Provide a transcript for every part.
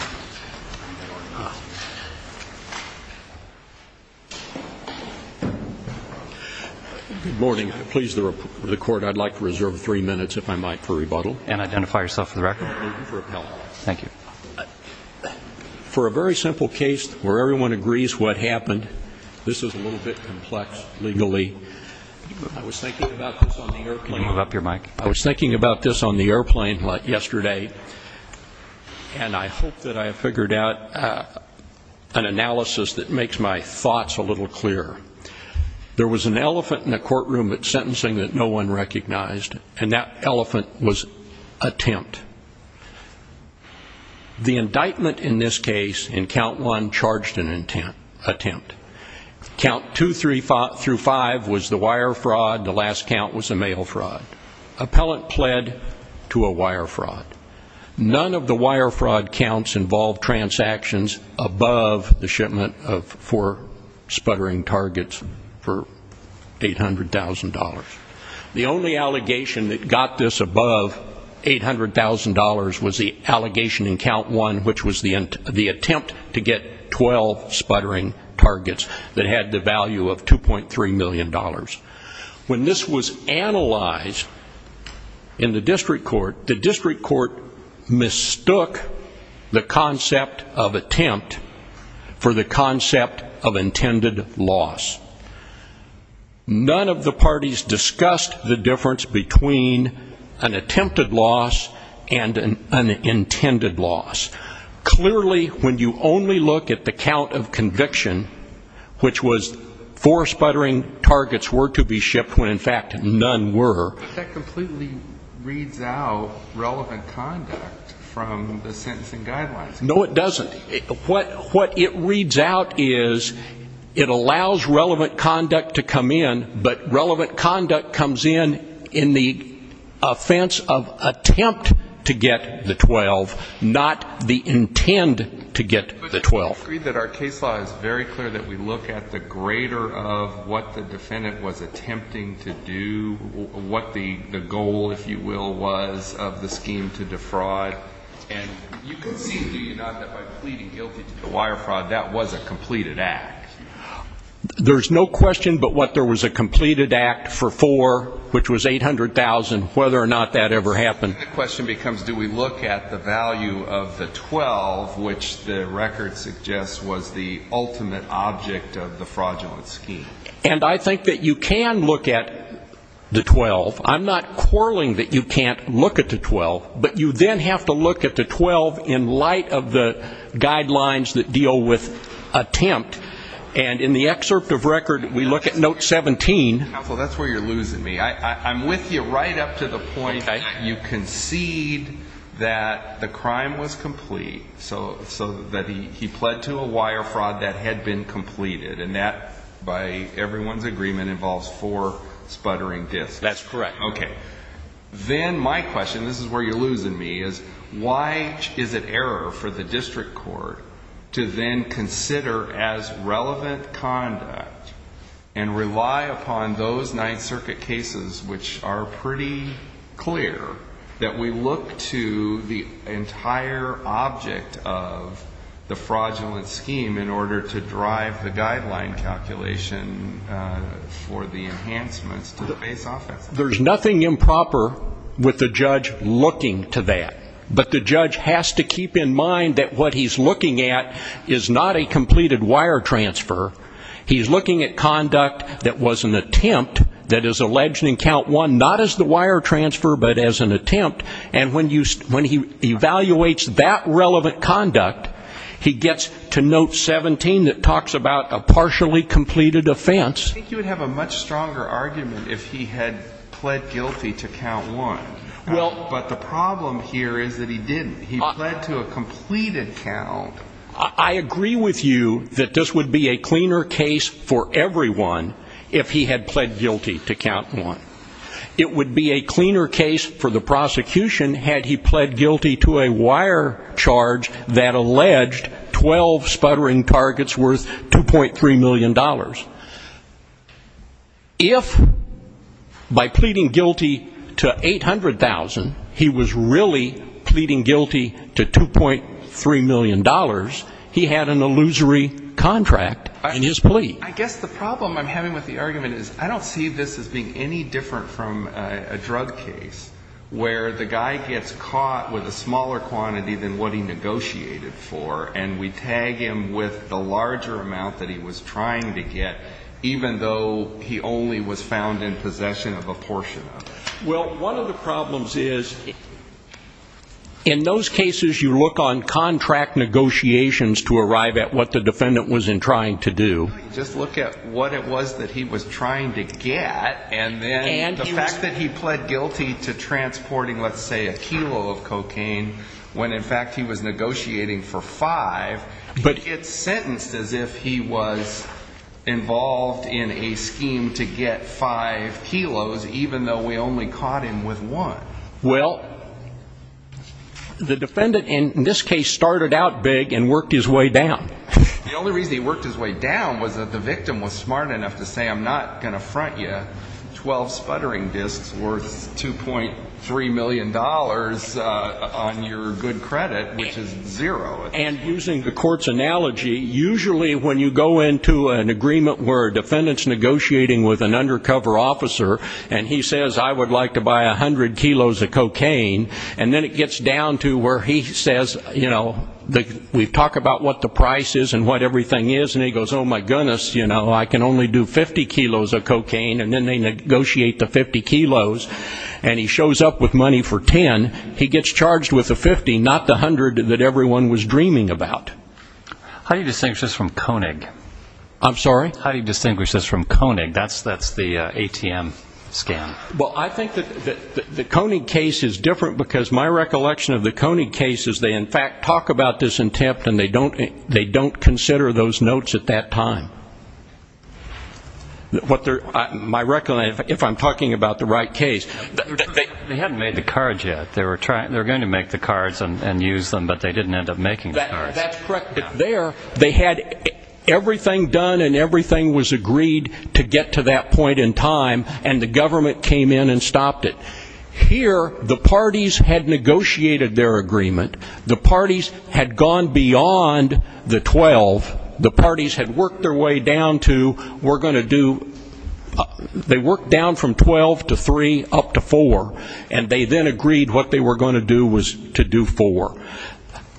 Good morning. Please, the court, I'd like to reserve three minutes, if I might, for rebuttal. And identify yourself for the record. Thank you. For a very simple case where everyone agrees what happened, this is a little bit complex legally. I was thinking about this on the airplane yesterday. And I hope that I have figured out an analysis that makes my thoughts a little clearer. There was an elephant in the courtroom at sentencing that no one recognized. And that elephant was a tempt. The indictment in this case, in count one, charged an attempt. Count two through five was the wire fraud. The last count was a mail fraud. Appellant pled to a wire fraud. None of the wire fraud counts involved transactions above the shipment of four sputtering targets for $800,000. The only allegation that got this above $800,000 was the allegation in count one, which was the attempt to get 12 sputtering targets that had the value of $2.3 million. When this was analyzed in the district court, the district court mistook the concept of attempt for the concept of intended loss. None of the parties discussed the difference between an attempted loss and an intended loss. Clearly, when you only look at the count of conviction, which was four sputtering targets were to be shipped when, in fact, none were. But that completely reads out relevant conduct from the sentencing guidelines. No, it doesn't. What it reads out is it allows relevant conduct to come in, but relevant conduct to get the 12, not the intent to get the 12. But you agree that our case law is very clear that we look at the grader of what the defendant was attempting to do, what the goal, if you will, was of the scheme to defraud. And you can see, do you not, that by pleading guilty to the wire fraud, that was a completed act? There's no question but what there was a completed act for four, which was $800,000, whether or not that ever happened. The question becomes, do we look at the value of the 12, which the record suggests was the ultimate object of the fraudulent scheme? And I think that you can look at the 12. I'm not quarreling that you can't look at the 12, but you then have to look at the 12 in light of the guidelines that deal with attempt. And in the excerpt of record, we look at note 17. Counsel, that's where you're losing me. I'm with you right up to the point that you concede that the crime was complete, so that he pled to a wire fraud that had been completed. And that, by everyone's agreement, involves four sputtering disks. That's correct. Okay. Then my question, this is where you're losing me, is why is it error for the district court to then consider as relevant conduct and rely upon those Ninth Circuit cases, which are pretty clear, that we look to the entire object of the fraudulent scheme in order to drive the guideline calculation for the enhancements to the base offense? There's nothing improper with the judge looking to that. But the judge has to keep in mind that what he's looking at is not a completed wire transfer. He's looking at conduct that was an attempt, that is alleged in count one, not as the wire transfer, but as an attempt. And when he evaluates that relevant conduct, he gets to note 17 that talks about a partially completed offense. I think you would have a much stronger argument if he had pled guilty to count one. But the he didn't count. I agree with you that this would be a cleaner case for everyone if he had pled guilty to count one. It would be a cleaner case for the prosecution had he pled guilty to a wire charge that alleged 12 sputtering targets worth $2.3 million. If by pleading guilty to $800,000, he was really pleading guilty to $2.3 million, he had an illusory contract in his plea. I guess the problem I'm having with the argument is I don't see this as being any different from a drug case where the guy gets caught with a smaller quantity than what he negotiated for and we tag him with the larger amount that he was trying to get, even though he only was found in possession of a portion of it. Well, one of the problems is in those cases you look on contract negotiations to arrive at what the defendant was trying to do. Just look at what it was that he was trying to get, and then the fact that he pled guilty to transporting, let's say, a kilo of cocaine, when in fact he was negotiating for five, it's sentenced as if he was involved in a scheme to get five kilos, even though we only caught him with one. Well, the defendant in this case started out big and worked his way down. The only reason he worked his way down was that the victim was smart enough to say, I'm not going to front you 12 sputtering discs worth $2.3 million on your good credit, which is zero. And using the court's analogy, usually when you go into an agreement where a defendant is negotiating with an undercover officer and he says, I would like to buy 100 kilos of cocaine, and then it gets down to where he says, you know, we talk about what the price is and what everything is, and he goes, oh, my goodness, I can only do 50 kilos of cocaine, and then they negotiate the 50 kilos, and he shows up with money for 10, he gets charged with the 50, not the 100 that everyone was dreaming about. How do you distinguish this from Koenig? I'm sorry? How do you distinguish this from Koenig? That's the ATM scam. Well, I think that the Koenig case is different because my recollection of the Koenig case is they in fact talk about this intent and they don't consider those notes at that time. My recollection, if I'm talking about the right case, they hadn't made the cards yet. They were going to make the cards and use them, but they didn't end up making the cards. That's correct. But there, they had everything done and everything was agreed to get to that point in time, and the government came in and stopped it. Here, the parties had negotiated their agreement, the parties had gone beyond the 12, the parties had worked their way down to, we're going to do, they worked down from 12 to 3 up to 4, and they then agreed what they were going to do was to do 4.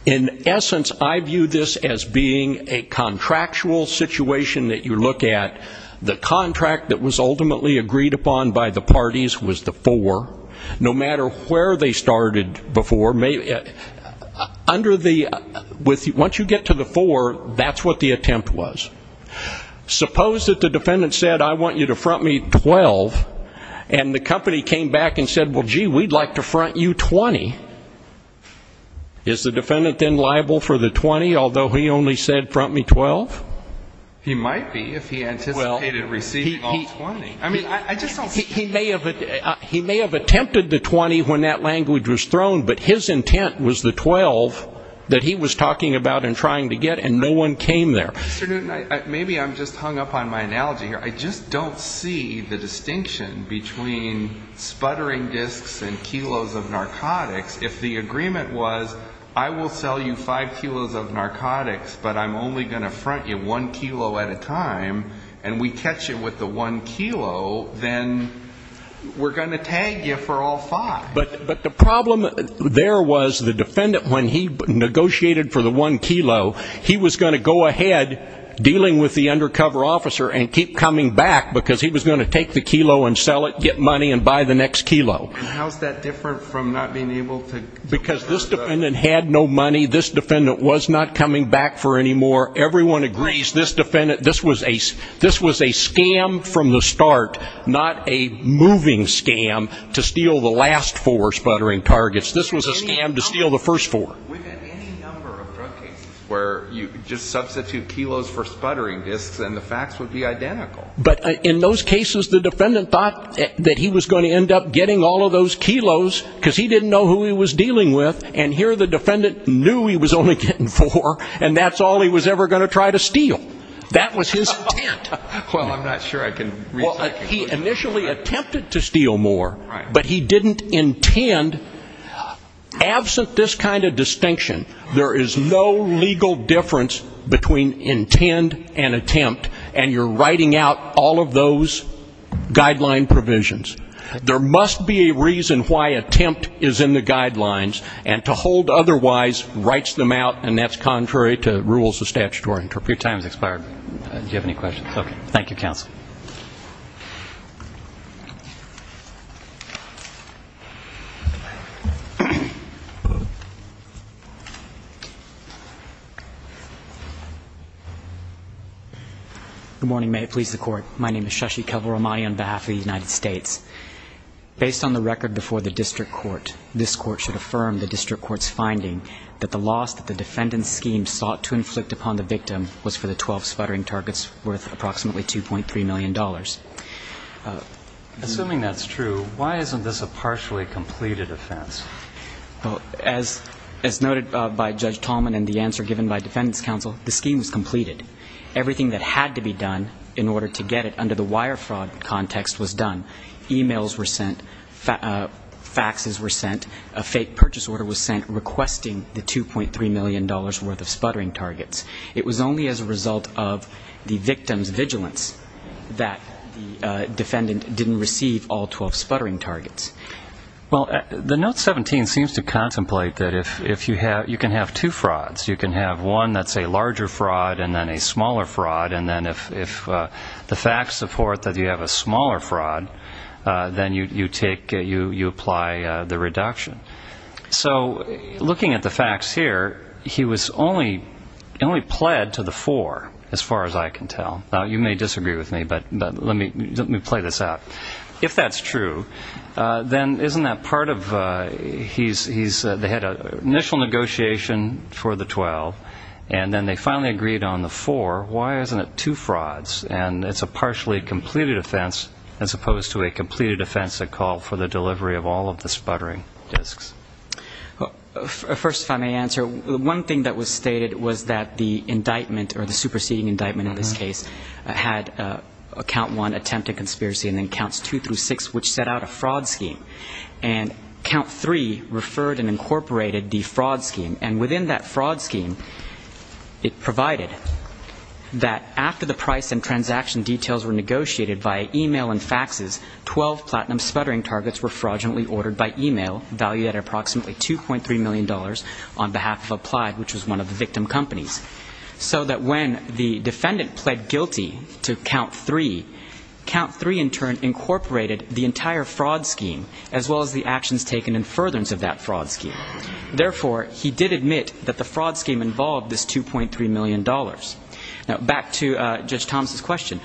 In essence, I view this as being a contractual situation that you look at. The contract that was ultimately agreed upon by the parties was the 4. No matter where they started before, under the, once you get to the 4, that's what the attempt was. Suppose that the defendant said, I want you to front me 12, and the company came back and said, well, gee, we'd like to front you 20. Is the defendant then liable for the 20, although he only said front me 12? He might be, if he anticipated receiving all 20. I mean, I just don't see it. He may have attempted the 20 when that language was thrown, but his intent was the 12 that he was talking about and trying to get, and no one came there. Mr. Newton, maybe I'm just hung up on my analogy here. I just don't see the distinction between sputtering discs and kilos of narcotics. If the agreement was, I will sell you 5 kilos of narcotics, but I'm only going to front you 1 kilo at a time, and we catch you with the 1 kilo, then we're going to tag you for all 5. But the problem there was the defendant, when he negotiated for the 1 kilo, he was going to go ahead dealing with the undercover officer and keep coming back because he was going to take the kilo and sell it, get money, and buy the next kilo. And how's that different from not being able to... Because this defendant had no money, this defendant was not coming back for any more. Everyone agrees this defendant, this was a scam from the start, not a moving scam to steal the last 4 sputtering targets. This was a scam to steal the first 4. We've had any number of drug cases where you just substitute kilos for sputtering discs and the facts would be identical. But in those cases, the defendant thought that he was going to end up getting all of those kilos because he didn't know who he was dealing with, and here the defendant knew he was only getting 4, and that's all he was ever going to try to steal. That was his intent. Well, I'm not sure I can reach that conclusion. He initially attempted to steal more, but he didn't intend. Absent this kind of distinction, there is no legal difference between intent and attempt, and you're writing out all of those guideline provisions. There must be a reason why attempt is in the guidelines, and to hold otherwise writes them out and that's contrary to rules of statutory interpretation. Your time has expired. Do you have any questions? Okay. Thank you, counsel. Good morning, may it please the court. My name is Shashi Kavaramani on behalf of the United States. Based on the record before the district court, this court should affirm the district court's finding that the loss that the defendant's scheme sought to inflict upon the victim was for the 12 sputtering targets worth approximately $2.3 million. Assuming that's true, why isn't this a partially completed offense? Well, as noted by Judge Tallman and the answer given by defendant's counsel, the scheme was completed. Everything that had to be done in order to get it under the wire fraud context was done. Emails were sent, faxes were sent, a fake purchase order was sent requesting the $2.3 million worth of sputtering targets. It was only as a result of the victim's vigilance that the defendant didn't receive all 12 sputtering targets. Well, the note 17 seems to contemplate that if you have, you can have two frauds. You can have one that's a larger fraud and then a smaller fraud and then if the facts support that you have a smaller fraud, then you take, you apply the reduction. So looking at the facts here, he was only, only pled to the four as far as I can tell. Now, you may disagree with me, but let me, let me play this out. If that's true, then isn't that part of, he's, he's, they had an initial negotiation for the 12 and then they finally agreed on the four. Why isn't it two frauds and it's a partially completed offense as opposed to a completed offense that called for the delivery of all of the sputtering disks? First, if I may answer, one thing that was stated was that the indictment or the superseding indictment in this case had a count one attempted conspiracy and then counts two through six which set out a fraud scheme and count three referred and incorporated the fraud scheme and within that fraud scheme, it provided that after the price and transaction details were negotiated by email and faxes, 12 platinum sputtering targets were fraudulently ordered by email valued at approximately $2.3 million on behalf of Applied which was one of the victim companies. So that when the defendant pled guilty to count three, count three in turn incorporated the entire fraud scheme as well as the actions taken in furtherance of that fraud scheme. Therefore he did admit that the fraud scheme involved this $2.3 million. Now back to Judge Thomas' question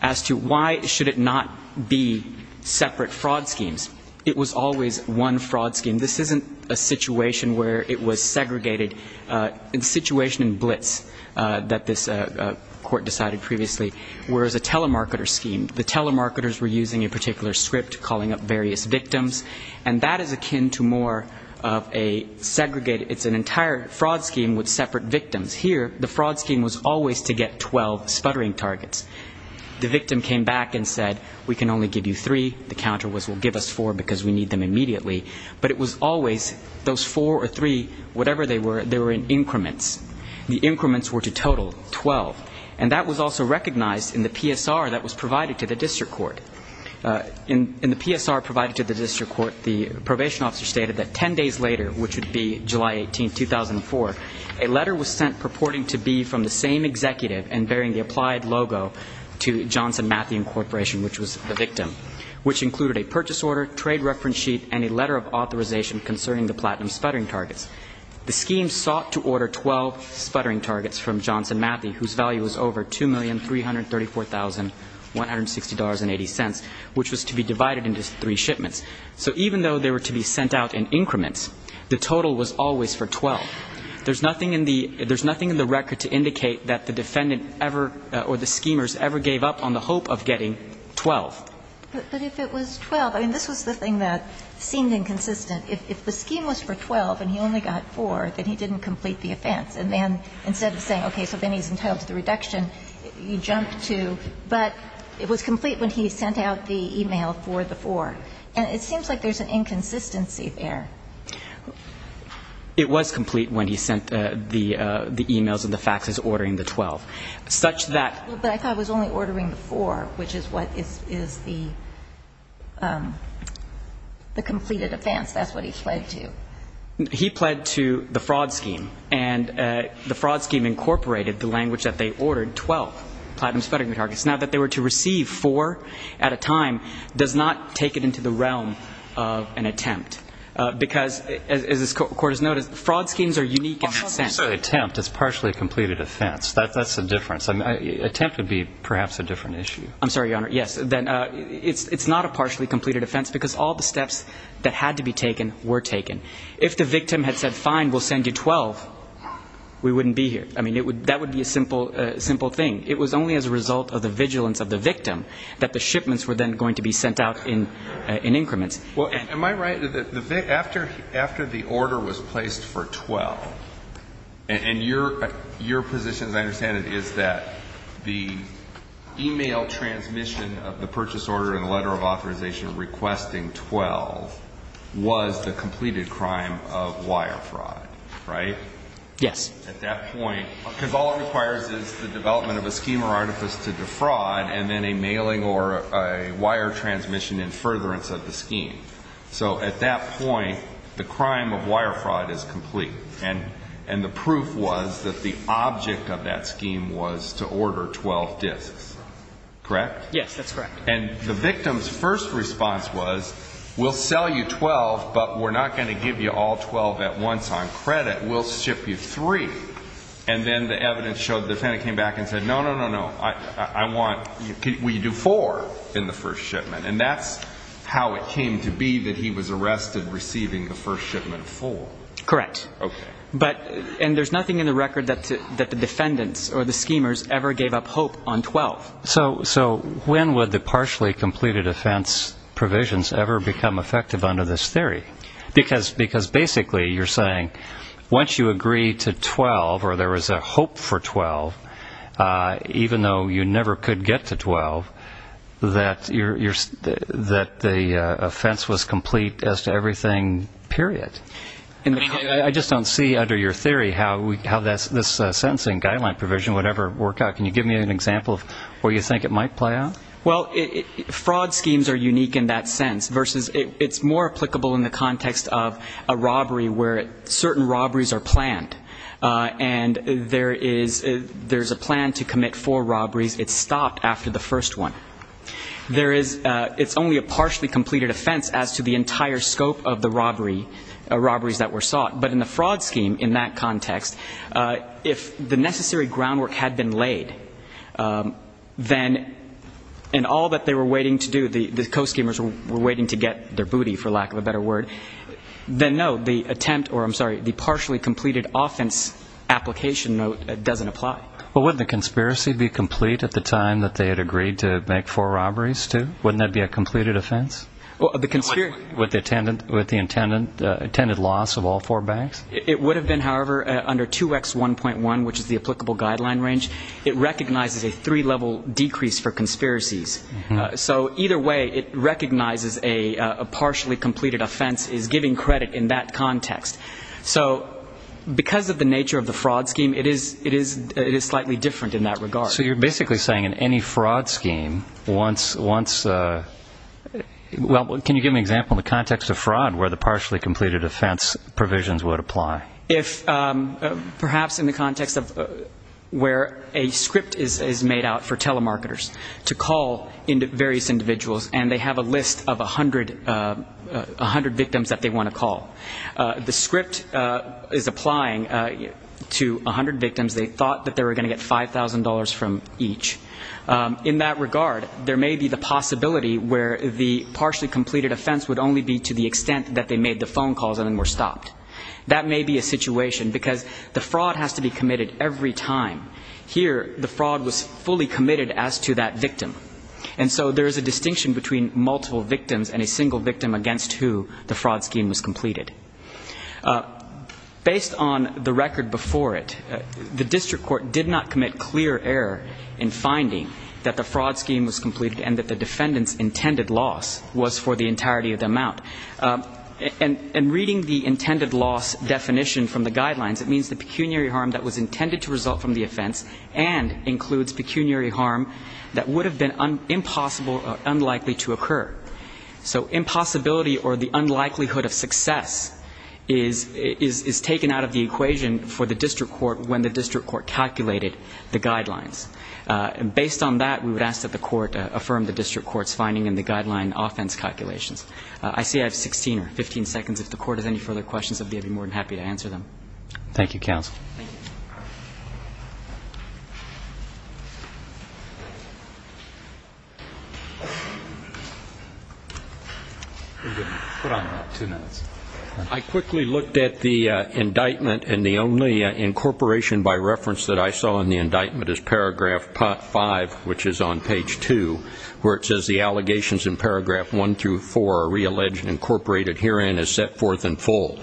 as to why should it not be separate fraud schemes. It was always one fraud scheme. This isn't a situation where it was segregated, a situation in blitz that this court decided previously whereas a telemarketer scheme, the telemarketers were using a particular script calling up various victims and that is akin to more of a segregated, it's an entire fraud scheme with separate victims. Here, the fraud scheme was always to get 12 sputtering targets. The victim came back and said, we can only give you three. The counter was, we'll give us four because we need them immediately. But it was always those four or three, whatever they were, they were in increments. The increments were to total 12. And that was also recognized in the PSR that was provided to the district court. In the PSR provided to the district court, the probation officer stated that 10 days later, which would be July 18th, 2004, a letter was sent purporting to be from the same executive and bearing the applied logo to Johnson Mathew Incorporation, which was the victim, which included a purchase order, trade reference sheet, and a letter of authorization concerning the platinum sputtering targets. The scheme sought to order 12 sputtering targets from Johnson Mathew whose value was over $2,334,160.80 which was to be divided into three shipments. So even though they were to be sent out in increments, the total was always for 12. There's nothing in the record to indicate that the defendant ever or the schemers ever gave up on the hope of getting 12. But if it was 12, I mean, this was the thing that seemed inconsistent. If the scheme was for 12 and he only got four, then he didn't complete the offense. And then instead of saying, okay, so then he's entitled to the reduction, he jumped to, but it was complete when he sent out the email for the four. And it seems like there's an inconsistency there. It was complete when he sent the emails and the faxes ordering the 12, such that But I thought it was only ordering the four, which is what is the completed offense. That's what he pled to. He pled to the fraud scheme. And the fraud scheme incorporated the language that they ordered 12 platinum sputtering Now that they were to receive four at a time does not take it into the realm of an attempt. Because as this court has noted, fraud schemes are unique in that sense. It's not necessarily an attempt. It's partially a completed offense. That's the difference. An attempt would be perhaps a different issue. I'm sorry, Your Honor. Yes. Then it's not a partially completed offense because all the steps that had to be taken were taken. If the victim had said, fine, we'll send you 12, we wouldn't be here. I mean, that would be a simple thing. It was only as a result of the vigilance of the victim that the shipments were then going to be sent out in increments. Well, am I right that after the order was placed for 12, and your position, as I understand it, is that the email transmission of the purchase order and letter of authorization requesting 12 was the completed crime of wire fraud, right? Yes. At that point, because all it requires is the development of a scheme or artifice to defraud and then a mailing or a wire transmission in furtherance of the scheme. So at that point, the crime of wire fraud is complete. And the proof was that the object of that scheme was to order 12 disks. Correct? Yes, that's correct. And the victim's first response was, we'll sell you 12, but we're not going to give you all 12 at once on credit. We'll ship you three. And then the evidence showed the defendant came back and said, no, no, no, no, I want you to do four in the first shipment. And that's how it came to be that he was arrested receiving the first shipment of four. Correct. Okay. And there's nothing in the record that the defendants or the schemers ever gave up hope on 12. So when would the partially completed offense provisions ever become effective under this theory? Because basically you're saying, once you agree to 12 or there was a hope for 12, even though you never could get to 12, that the offense was complete as to everything, period. I just don't see under your theory how this sentencing guideline provision would ever work out. Can you give me an example of where you think it might play out? Well, fraud schemes are unique in that sense, versus it's more applicable in the context of a robbery where certain robberies are planned. And there is a plan to commit four robberies. It's stopped after the first one. It's only a partially completed offense as to the entire scope of the robberies that were sought. But in the fraud scheme, in that context, if the necessary groundwork had been laid, then in all that they were waiting to do, the co-schemers were waiting to get their booty, for lack of a better word, then no, the attempt or, I'm sorry, the partially completed offense application doesn't apply. Well, wouldn't the conspiracy be complete at the time that they had agreed to make four robberies, too? Wouldn't that be a completed offense? With the intended loss of all four banks? It would have been, however, under 2X1.1, which is the applicable guideline range. It recognizes a three-level decrease for conspiracies. So either way, it recognizes a partially completed offense is giving credit in that context. So because of the nature of the fraud scheme, it is slightly different in that regard. So you're basically saying in any fraud scheme, once, well, can you give an example in the context of fraud where the partially completed offense provisions would apply? Perhaps in the context of where a script is made out for telemarketers to call various individuals and they have a list of 100 victims that they want to call. The script is applying to 100 victims. They thought that they were going to get $5,000 from each. In that regard, there may be the possibility where the partially completed offense would only be to the extent that they made the phone calls and then were stopped. That may be a situation because the fraud has to be committed every time. Here, the fraud was fully committed as to that victim. And so there is a distinction between multiple victims and a single victim against who the fraud scheme was completed. Based on the record before it, the district court did not commit clear error in finding that the fraud scheme was completed and that the defendant's intended loss was for the entirety of the amount. And reading the intended loss definition from the guidelines, it means the pecuniary harm that was intended to result from the offense and includes pecuniary harm that would have been impossible or unlikely to occur. So impossibility or the unlikelihood of success is taken out of the equation for the district court when the district court calculated the guidelines. And based on that, we would ask that the court affirm the district court's finding in the guideline offense calculations. I see I have 16 or 15 seconds. If the court has any further questions, I'd be more than happy to answer them. Thank you, counsel. I quickly looked at the indictment and the only incorporation by reference that I saw in the indictment is paragraph 5, which is on page 2, where it says the allegations in paragraph 1 through 4 are realleged and incorporated. Herein is set forth in full.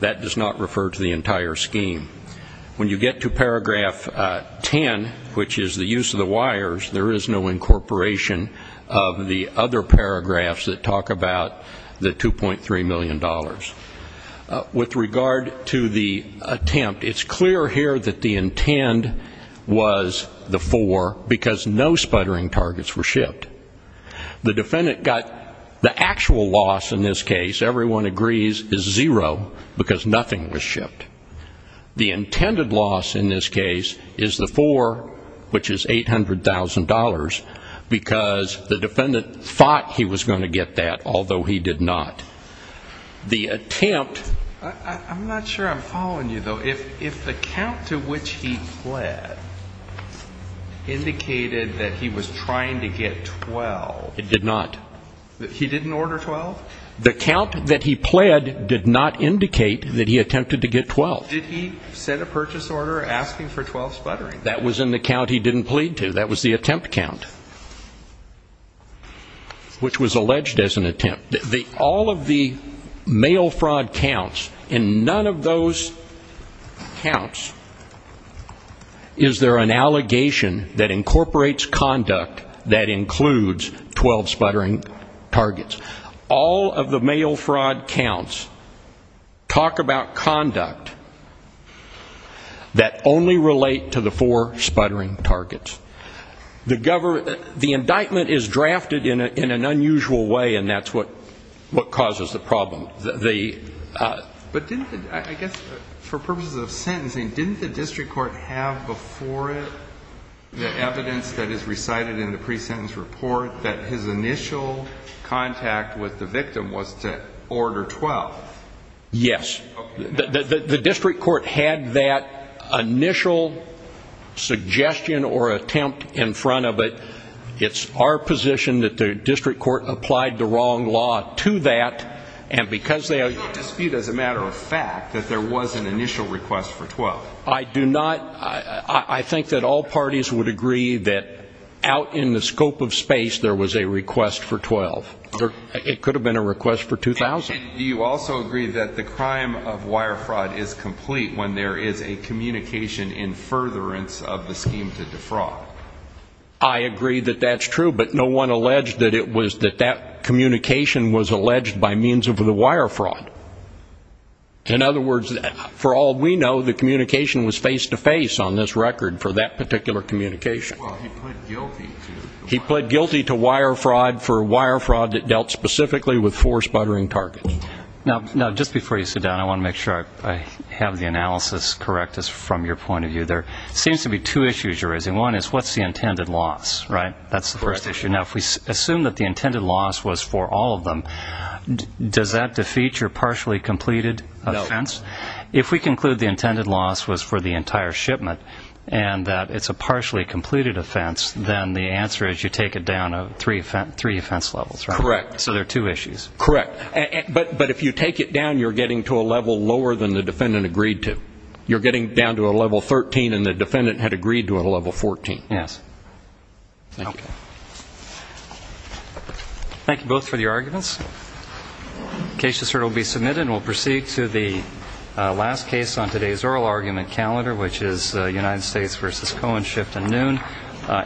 That does not refer to the entire scheme. When you get to paragraph 10, which is the use of the wires, there is no incorporation of the other paragraphs that talk about the $2.3 million. With regard to the attempt, it's clear here that the intent was the 4 because no sputtering targets were shipped. The defendant got the actual loss in this case, everyone agrees, is zero because nothing was shipped. The intended loss in this case is the 4, which is $800,000, because the defendant thought he was going to get that, although he did not. The attempt... I'm not sure I'm following you, though. If the count to which he pled indicated that he was trying to get 12... It did not. He didn't order 12? The count that he pled did not indicate that he attempted to get 12. Did he send a purchase order asking for 12 sputtering? That was in the count he didn't plead to. That was the attempt count, which was alleged as an attempt. All of the mail fraud counts, in none of those counts is there an allegation that incorporates conduct that includes 12 sputtering targets. All of the mail fraud counts talk about conduct that only relate to the 4 sputtering targets. The indictment is drafted in an unusual way, and that's what causes the problem. But didn't the, I guess for purposes of sentencing, didn't the district court have before it the initial contact with the victim was to order 12? Yes. The district court had that initial suggestion or attempt in front of it. It's our position that the district court applied the wrong law to that, and because they... It's not a dispute as a matter of fact that there was an initial request for 12. I do not, I think that all parties would agree that out in the scope of space there was a request for 12. It could have been a request for 2,000. Do you also agree that the crime of wire fraud is complete when there is a communication in furtherance of the scheme to defraud? I agree that that's true, but no one alleged that it was, that that communication was alleged by means of the wire fraud. In other words, for all we know, the communication was face-to-face on this record for that particular communication. Well, he pled guilty to wire fraud for wire fraud that dealt specifically with four sputtering targets. Now, just before you sit down, I want to make sure I have the analysis correct from your point of view. There seems to be two issues you're raising. One is what's the intended loss, right? That's the first issue. Now, if we assume that the intended loss was for all of them, does that defeat your partially completed offense? No. If we conclude the intended loss was for the entire shipment and that it's a partially completed offense, then the answer is you take it down three offense levels, right? Correct. So there are two issues. Correct. But if you take it down, you're getting to a level lower than the defendant agreed to. You're getting down to a level 13 and the defendant had agreed to a level 14. Yes. Thank you. Thank you both for your arguments. The case will be submitted and we'll proceed to the last case on today's oral argument calendar, which is United States v. Cohen, shift and noon.